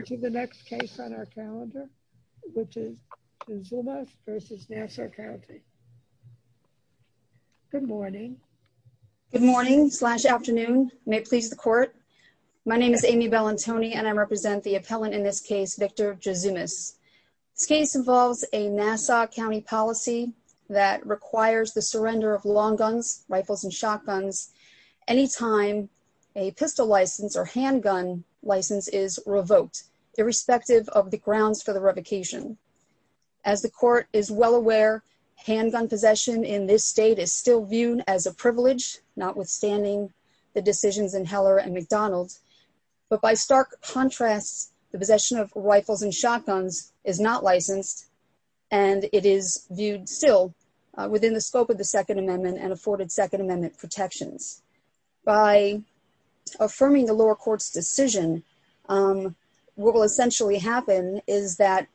to the next case on our calendar, which is Juzumas v. Nassau County. Good morning. Good morning slash afternoon. May it please the court. My name is Amy Bellantoni and I represent the appellant in this case, Victor Juzumas. This case involves a Nassau County policy that requires the surrender of long guns, rifles, and shotguns anytime a pistol license or handgun license is revoked, irrespective of the grounds for the revocation. As the court is well aware, handgun possession in this state is still viewed as a privilege, notwithstanding the decisions in Heller and McDonald. But by stark contrast, the possession of rifles and shotguns is not licensed and it is viewed still within the scope of the Second Amendment protections. By affirming the lower court's decision, what will essentially happen is that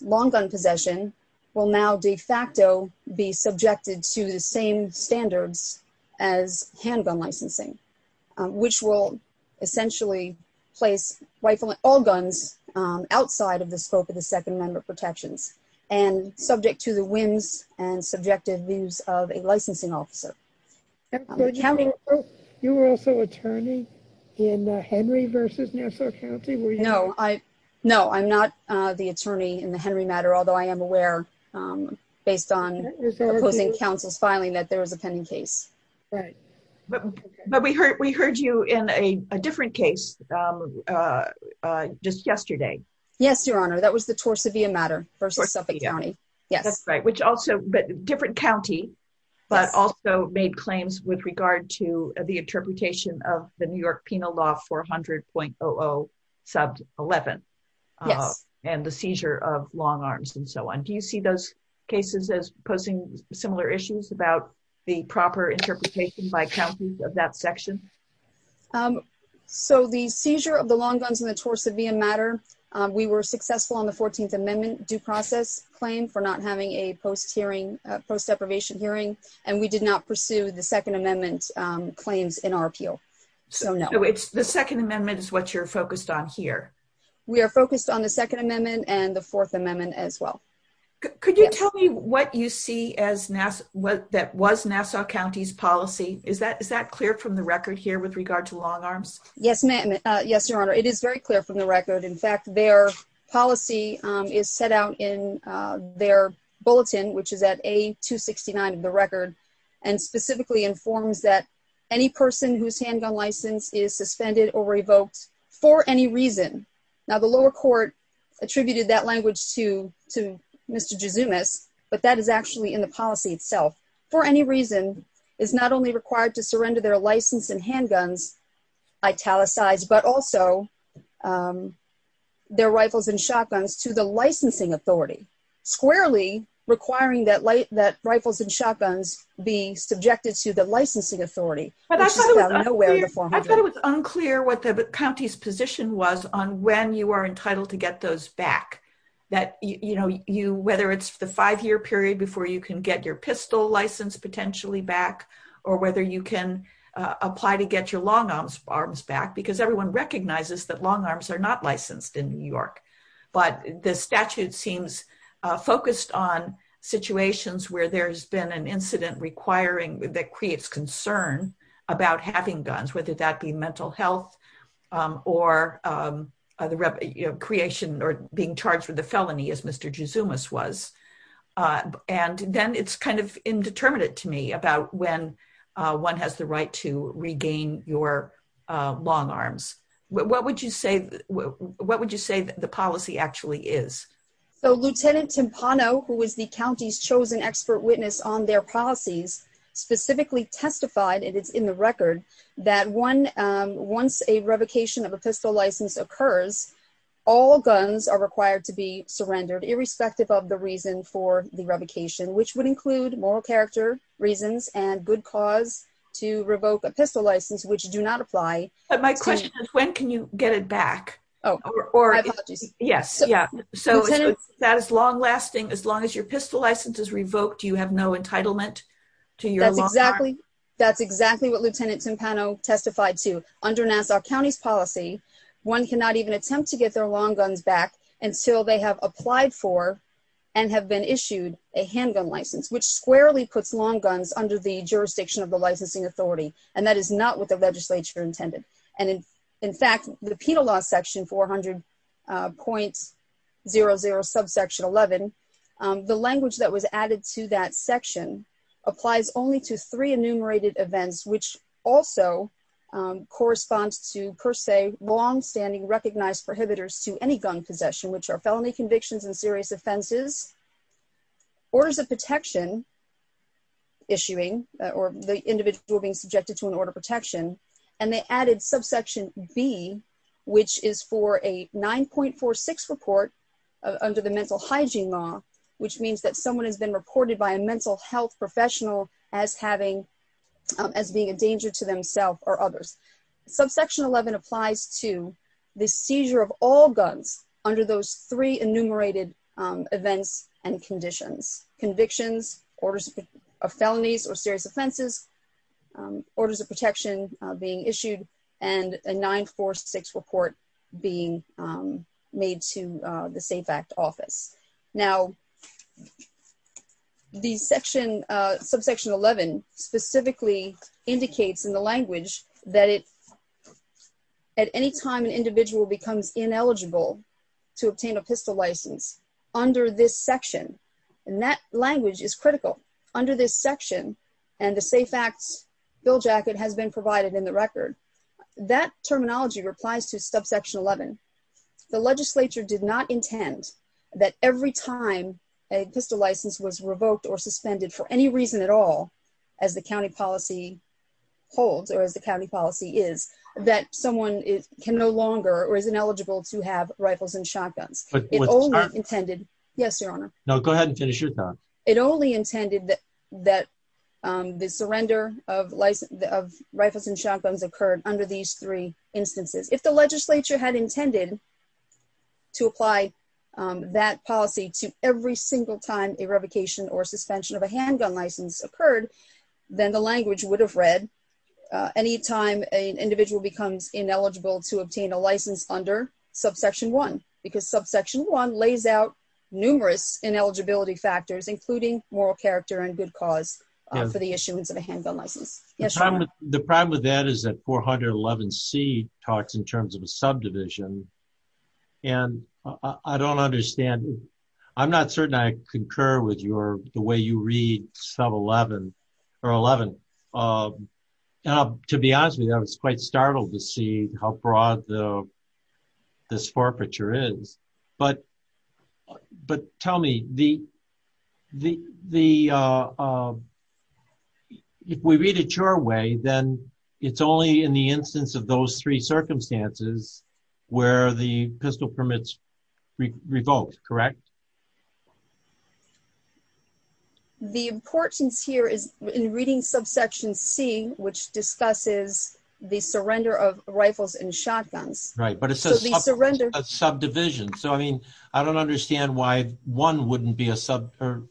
long gun possession will now de facto be subjected to the same standards as handgun licensing, which will essentially place all guns outside of the scope of the Second Amendment protections and subject to the whims and subjective views of a licensing officer. You were also attorney in Henry v. Nassau County? No, I'm not the attorney in the Henry matter, although I am aware, based on opposing counsel's filing, that there was a pending case. But we heard you in a different case just yesterday. Yes, Your Honor. That was the Torsavia matter versus Suffolk County. Yes, that's right. But different county, but also made claims with regard to the interpretation of the New York Penal Law 400.0011 and the seizure of long arms and so on. Do you see those cases as posing similar issues about the proper interpretation by counties of that section? Um, so the seizure of the long guns in the Torsavia matter, we were successful on the 14th Amendment due process claim for not having a post hearing, post deprivation hearing, and we did not pursue the Second Amendment claims in our appeal. So no, it's the Second Amendment is what you're focused on here. We are focused on the Second Amendment and the Fourth Amendment as well. Could you tell me what you see as Nassau, what that was Nassau County's policy? Is that is that clear from the record here with regard to long arms? Yes, ma'am. Yes, Your Honor. It is very clear from the record. In fact, their policy is set out in their bulletin, which is at A269 of the record, and specifically informs that any person whose handgun license is suspended or revoked for any reason. Now, the lower court attributed that language to to Mr. Jezumas, but that is actually in the policy itself for any reason is not only required to surrender their license and handguns, italicized, but also their rifles and shotguns to the licensing authority, squarely requiring that light that rifles and shotguns be subjected to the licensing authority. I thought it was unclear what the county's position was on when you are entitled to get those back. That you know, you whether it's the five year period before you can your pistol license potentially back, or whether you can apply to get your long arms arms back, because everyone recognizes that long arms are not licensed in New York. But the statute seems focused on situations where there's been an incident requiring that creates concern about having guns, whether that be mental health, or the creation or being charged with a felony, as Mr. Jezumas was. And then it's kind of indeterminate to me about when one has the right to regain your long arms. What would you say? What would you say the policy actually is? So Lieutenant Timpano, who was the county's chosen expert witness on their policies, specifically testified, and it's in the record, that one, once a revocation of a pistol license occurs, all guns are required to be surrendered, irrespective of the reason for the revocation, which would include moral character reasons and good cause to revoke a pistol license, which do not apply. But my question is, when can you get it back? Oh, or? Yes. Yeah. So that is long lasting. As long as your pistol license is revoked, you have no entitlement to your long arm. That's exactly what Lieutenant Timpano testified to. Under Nassau County's policy, one cannot even attempt to get their long guns back until they have applied for and have been issued a handgun license, which squarely puts long guns under the jurisdiction of the licensing authority. And that is not what the legislature intended. And in fact, the penal law section 400.00 subsection 11, the language that was added to that section applies only to three enumerated events, which also corresponds to, per se, longstanding recognized prohibitors to any gun possession, which are felony convictions and serious offenses, orders of protection issuing, or the individual being subjected to an order of protection. And they added subsection B, which is for a 9.46 report under the mental hygiene law, which means that someone has been reported by a mental health professional as being a danger to themselves or others. Subsection 11 applies to the seizure of all guns under those three enumerated events and conditions, convictions, orders of felonies or serious offenses, orders of protection being issued, and a 9.46 report being made to the Safe Act Office. Now, the section, subsection 11, specifically indicates in the language that it, at any time an individual becomes ineligible to obtain a pistol license under this section, and that language is critical. Under this section, and the Safe Act's bill jacket has been provided in the record, that terminology replies to subsection 11. The legislature did not intend that every time a pistol license was revoked or suspended for any reason at all, as the county policy holds or as the county policy is, that someone can no longer or is ineligible to have rifles and shotguns. It only intended, yes, your honor. No, go ahead and finish your time. It only of rifles and shotguns occurred under these three instances. If the legislature had intended to apply that policy to every single time a revocation or suspension of a handgun license occurred, then the language would have read, any time an individual becomes ineligible to obtain a license under subsection 1, because subsection 1 lays out numerous ineligibility factors, including moral character and good cause for the issuance of a handgun license. Yes, your honor. The problem with that is that 411C talks in terms of a subdivision, and I don't understand, I'm not certain I concur with your, the way you read sub 11, or 11. To be honest with you, I was quite startled to see how broad this forfeiture is, but tell me, if we read it your way, then it's only in the instance of those three circumstances where the pistol permits revoked, correct? The importance here is in reading subsection C, which discusses the surrender of rifles and shotguns. Right, but it says a subdivision. So, I mean, I don't understand why 1 wouldn't be a sub, or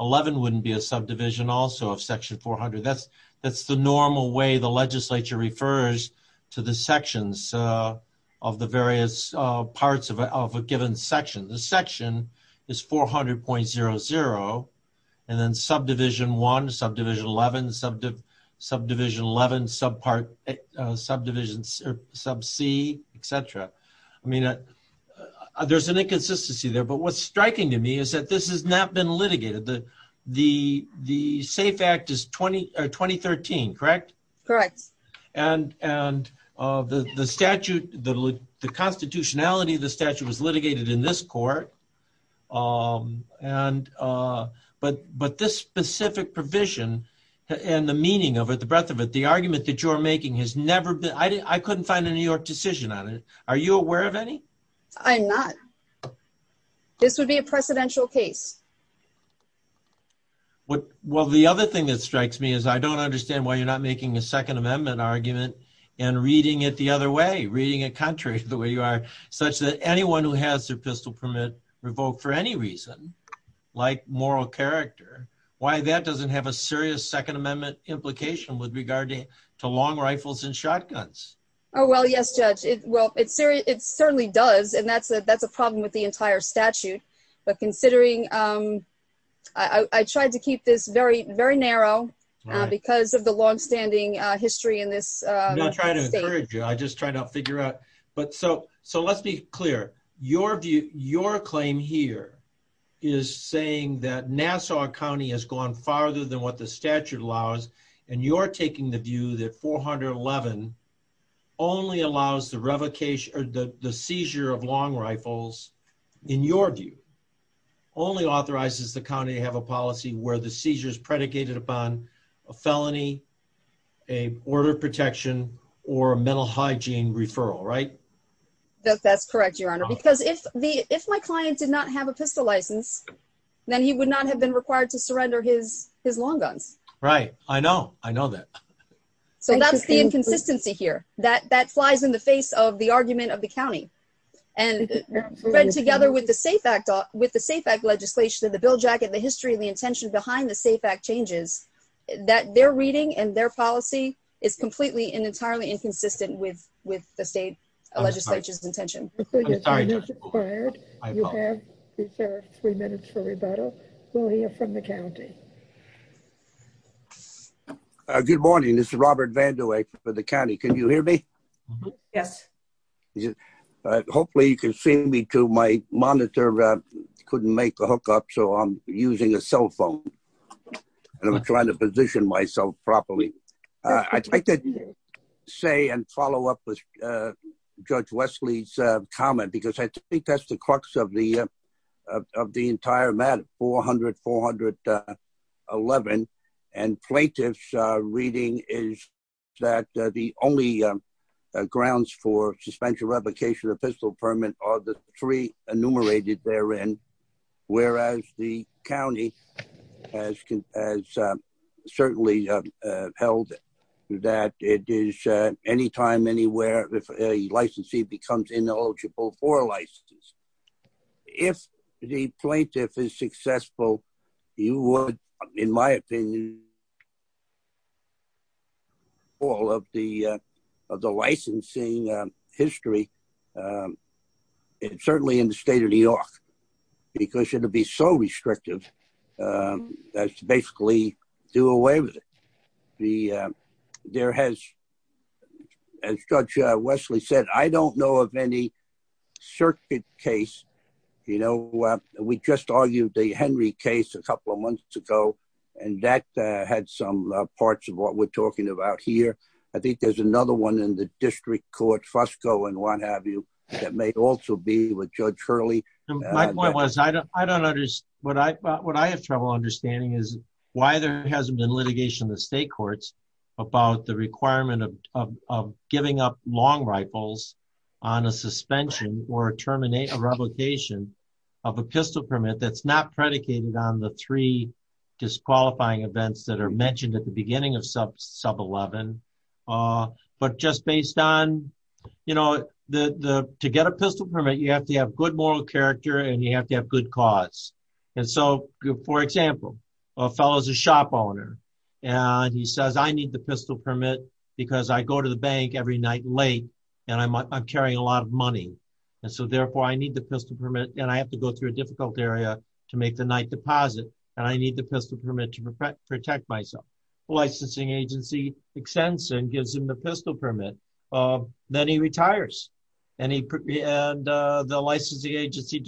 11 wouldn't be a subdivision also of section 400. That's the normal way the legislature refers to the sections of the various parts of a given section. The section is 400.00, and then subdivision 1, subdivision 11, subdivision 11, subdivision sub C, etc. I mean, there's an inconsistency there, but what's striking to me is that this has not been litigated. The safe act is 2013, correct? Correct. And the statute, the constitutionality of the statute, but this specific provision and the meaning of it, the breadth of it, the argument that you're making has never been, I couldn't find a New York decision on it. Are you aware of any? I'm not. This would be a precedential case. Well, the other thing that strikes me is I don't understand why you're not making a Second Amendment argument and reading it the other way, reading it contrary to the way you are, such that anyone who has their pistol permit revoked for any reason, like moral character, why that doesn't have a serious Second Amendment implication with regard to long rifles and shotguns. Oh, well, yes, Judge. Well, it certainly does, and that's a problem with the entire statute, but considering I tried to keep this very, very narrow because of the longstanding history in this state. I'm not trying to encourage you. I just tried to figure out. So let's be clear. Your claim here is saying that Nassau County has gone farther than what the statute allows, and you're taking the view that 411 only allows the seizure of long rifles, in your view, only authorizes the county to have a policy where the seizure is predicated upon a felony, a border protection, or a mental hygiene referral, right? That's correct, Your Honor, because if my client did not have a pistol license, then he would not have been required to surrender his long guns. Right. I know. I know that. So that's the inconsistency here. That flies in the face of the argument of the county. And read together with the SAFE Act legislation and the bill jacket, the history and the intention behind the SAFE Act changes, that their reading and their policy is completely and entirely inconsistent with the state legislature's intention. I'm sorry, Your Honor. You have reserved three minutes for rebuttal. We'll hear from the county. Good morning. This is Robert Vandewey for the county. Can you hear me? Yes. Yeah. Hopefully you can see me too. My monitor couldn't make a hookup, so I'm using a cell phone and I'm trying to position myself properly. I'd like to say and follow up with Judge Wesley's comment, because I think that's the crux of the entire matter, 400, 411, and plaintiff's reading is that the only grounds for suspension, revocation, or pistol permit are the three enumerated therein, whereas the county has certainly held that it is anytime, anywhere, if a licensee becomes ineligible for a license. If the plaintiff is successful, you would, in my opinion, all of the licensing history, certainly in the state of New York, because it would be so restrictive as to basically do away with it. There has, as Judge Wesley said, I don't know of any circuit case. We just argued the Henry case a couple of years ago, and that had some parts of what we're talking about here. I think there's another one in the district court, Fusco and what have you, that may also be with Judge Hurley. What I have trouble understanding is why there hasn't been litigation in the state courts about the requirement of giving up long rifles on a suspension or terminate a revocation of a pistol permit. That's not predicated on the three disqualifying events that are mentioned at the beginning of sub 11, but just based on, to get a pistol permit, you have to have good moral character and you have to have good cause. For example, a fellow's a shop owner, and he says, I need the pistol permit because I go to the bank every night late, and I'm carrying a lot of money, and so therefore I need the pistol permit, and I have to go through a difficult area to make the night deposit, and I need the pistol permit to protect myself. The licensing agency extends and gives him the pistol permit. Then he retires, and the licensing agency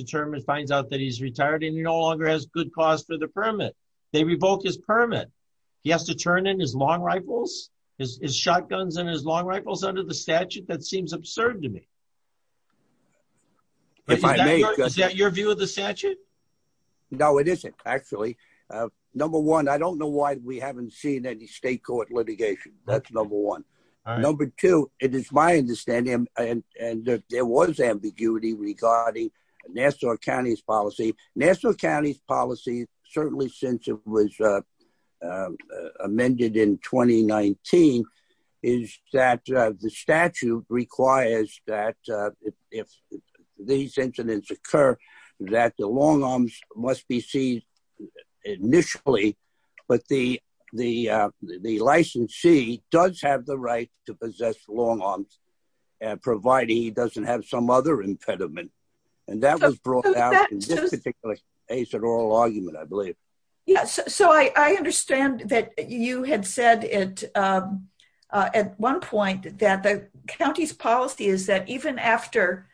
finds out that he's retired and he no longer has good cause for the permit. They revoke his permit. He has to turn in his long rifles, his shotguns and his long rifles under the statute. That seems absurd to me. Is that your view of the statute? No, it isn't actually. Number one, I don't know why we haven't seen any state court litigation. That's number one. Number two, it is my understanding, and there was ambiguity regarding Nassau County's policy. Nassau County's policy, certainly since it was amended in 2019, is that the statute requires that if these incidents occur, that the long arms must be seized initially, but the licensee does have the right to possess long arms, provided he doesn't have some other impediment. That was brought out in this particular case, oral argument, I believe. I understand that you had said at one point that the county's policy is that even after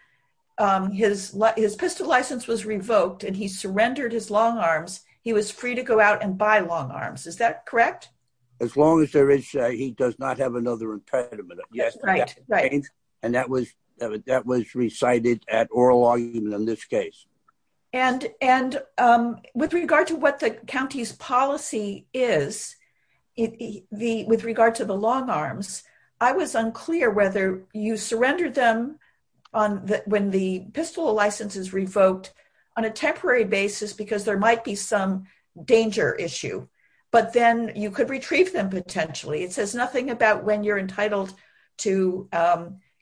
his pistol license was revoked and he surrendered his long arms, he was free to go out and buy long arms. Is that correct? As long as he does not have another impediment. That was recited at oral argument in this case. With regard to what the county's policy is, with regard to the long arms, I was unclear whether you surrendered them when the pistol license is revoked on a temporary basis because there might be some danger issue, but then you could retrieve them potentially. It says nothing about when you're entitled to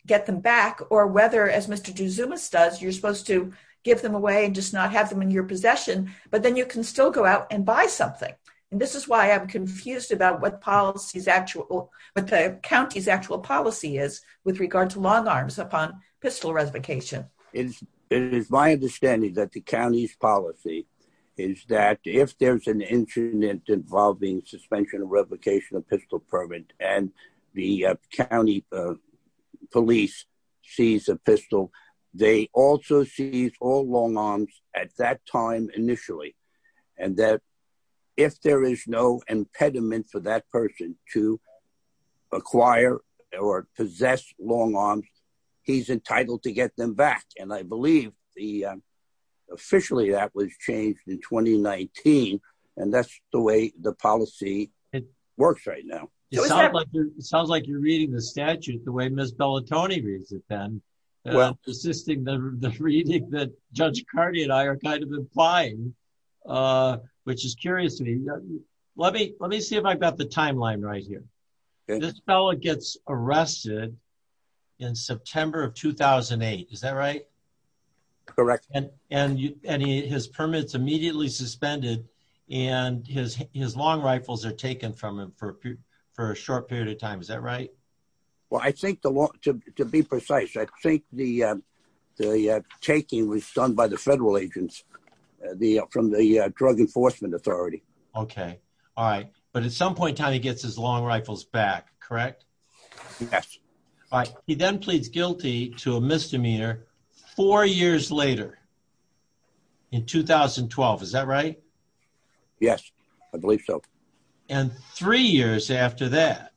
get them back or whether, as Mr. Duzumas does, you're supposed to give them away and just not have them in your possession, but then you can still go out and buy something. And this is why I'm confused about what the county's actual policy is with regard to long arms upon pistol revocation. It is my understanding that the county's policy is that if there's an incident involving suspension of revocation of pistol permit, and the county police seize a pistol, they also seize all long arms at that time initially. And that if there is no impediment for that person to acquire or possess long arms, he's entitled to get them back. And I believe officially that was changed in 2019. And that's the way the policy works right now. It sounds like you're reading the statute the way Ms. Bellatoni reads it then, resisting the reading that Judge Carney and I are kind of implying, which is curious to me. Let me see if I've got the timeline right here. This fellow gets arrested in September of 2008. Is that right? Correct. And his permit's suspended and his long rifles are taken from him for a short period of time. Is that right? Well, to be precise, I think the taking was done by the federal agents from the Drug Enforcement Authority. Okay. All right. But at some point in time, he gets his long rifles back. Correct? Yes. All right. He then pleads guilty to a misdemeanor four years later in 2012. Is that right? Yes, I believe so. And three years after that,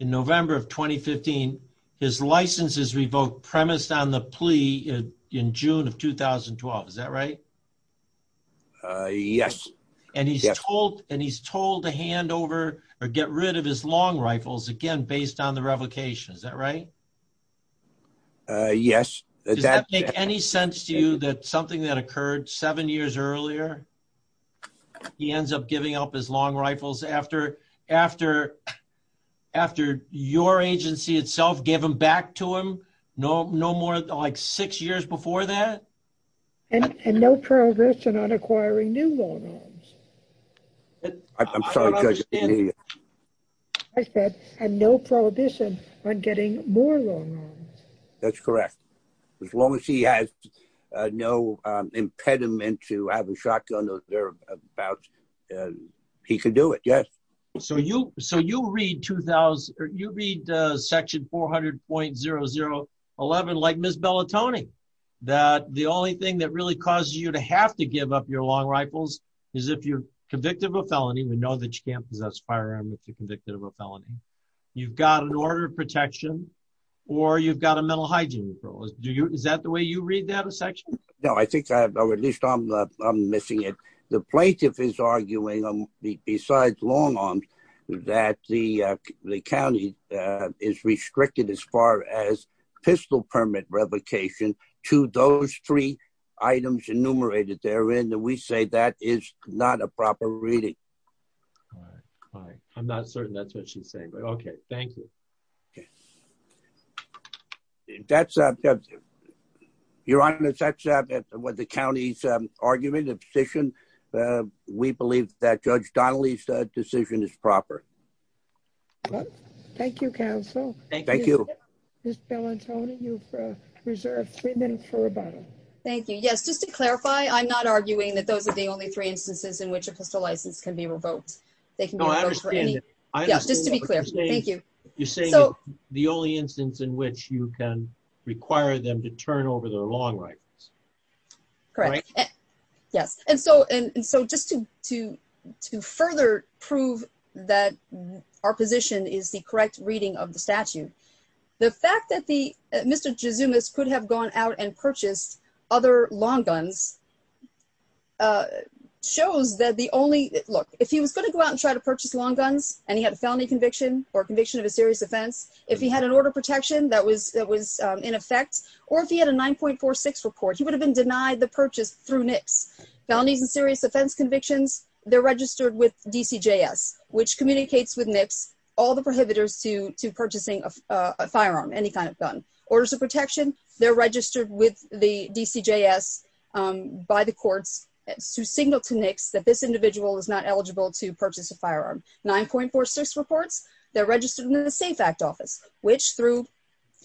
in November of 2015, his license is revoked, premised on the plea in June of 2012. Is that right? Yes. And he's told to hand over or get rid of his long rifles, again, based on the provocation. Is that right? Yes. Does that make any sense to you that something that occurred seven years earlier, he ends up giving up his long rifles after your agency itself gave them back to him, no more than like six years before that? And no prohibition on acquiring new long rifles. No prohibition on getting more long rifles. That's correct. As long as he has no impediment to have a shotgun, he can do it. Yes. So you read section 400.0011 like Ms. Bellatoni, that the only thing that really causes you to have to give up your long rifles is if you're convicted of a felony. We know that you can't possess firearm if you're convicted of a felony. You've got an order of protection, or you've got a mental hygiene rule. Is that the way you read that a section? No, I think, or at least I'm missing it. The plaintiff is arguing, besides long arms, that the county is restricted as far as pistol permit revocation to those three items enumerated therein, and we say that is not a proper reading. All right. I'm not certain that's what she's saying, but okay. Thank you. Okay. Your Honor, that's what the county's argument, the position. We believe that Judge Donnelly's decision is proper. Thank you, counsel. Thank you. Ms. Bellatoni, you've reserved three minutes for rebuttal. Thank you. Yes, just to clarify, I'm not arguing that those are the only three instances in which a pistol license can be revoked. They can be revoked for any... No, I understand. Yes, just to be clear. Thank you. You're saying it's the only instance in which you can require them to turn over their long rifles. Correct. Yes. And so, just to further prove that our position is the correct reading of the statute, the fact that Mr. Gizumis could have gone out and purchased other long guns shows that the only... Look, if he was going to go out and try to purchase long guns and he had a felony conviction or conviction of a serious offense, if he had an order of protection that was in effect, or if he had a 9.46 report, he would have been denied the purchase through NIPS. Felonies and serious offense convictions, they're registered with DCJS, which communicates with NIPS all the prohibitors to purchasing a kind of gun. Orders of protection, they're registered with the DCJS by the courts to signal to NIPS that this individual is not eligible to purchase a firearm. 9.46 reports, they're registered in the Safe Act Office, which through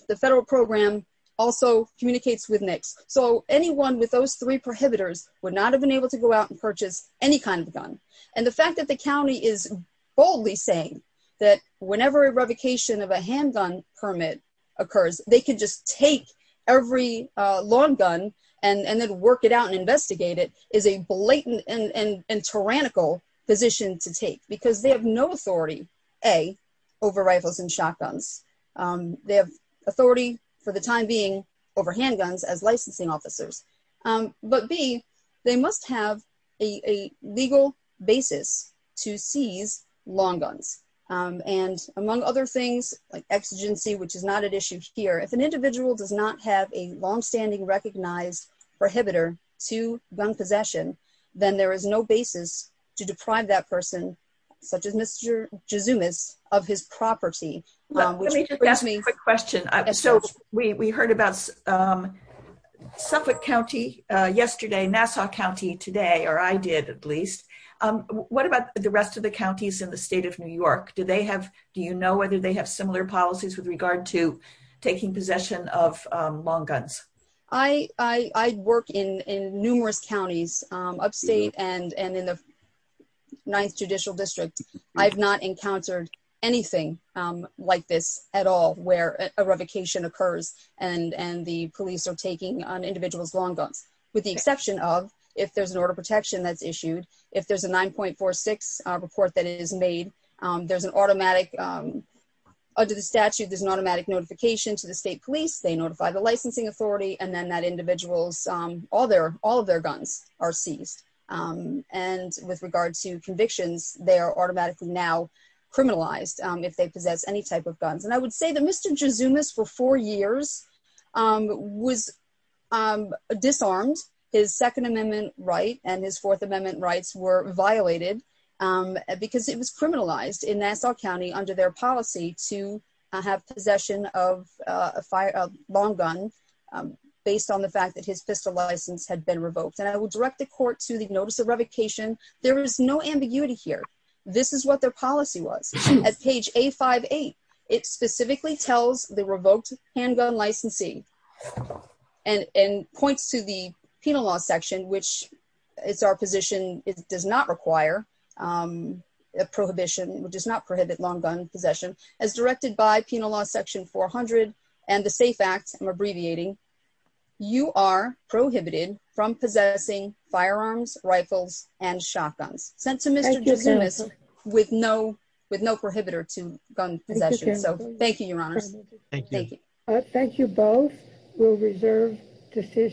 the federal program also communicates with NIPS. So, anyone with those three prohibitors would not have been able to go out and purchase any kind of gun. And the fact that the county is boldly saying that whenever a revocation of a handgun permit occurs, they can just take every long gun and then work it out and investigate it, is a blatant and tyrannical position to take. Because they have no authority, A, over rifles and shotguns. They have authority for the time being over handguns as licensing officers. But B, they must have a legal basis to seize long guns. And among other things, like exigency, which is not at issue here, if an individual does not have a longstanding recognized prohibitor to gun possession, then there is no basis to deprive that person, such as Mr. Gizumis, of his property. Let me just ask a quick question. So, we heard about Suffolk County yesterday, Nassau County today, or I did at least. What about the rest of the counties in the state of New York? Do you know whether they have similar policies with regard to taking possession of long guns? I work in numerous counties, upstate and in the 9th Judicial District. I've not encountered anything like this at all, where a revocation occurs and the police are taking an individual's long guns. With the exception of, if there's an order of protection that's issued, if there's a report that is made, there's an automatic, under the statute, there's an automatic notification to the state police, they notify the licensing authority, and then that individual's, all of their guns are seized. And with regard to convictions, they are automatically now criminalized if they possess any type of guns. And I would say that Mr. Gizumis, for four years, was disarmed. His Second Amendment right and his Fourth Amendment rights were violated because it was criminalized in Nassau County under their policy to have possession of a long gun based on the fact that his pistol license had been revoked. And I would direct the court to the notice of revocation. There is no ambiguity here. This is what their policy was. At page A58, it specifically tells the revoked handgun licensee, and points to the Penal Law Section, which is our position, it does not require a prohibition, does not prohibit long gun possession. As directed by Penal Law Section 400 and the SAFE Act, I'm abbreviating, you are prohibited from possessing firearms, rifles, and shotguns. Sent to Mr. Gizumis with no prohibitor to gun possession. So thank you, Your Honors. Thank you both. We'll reserve decision.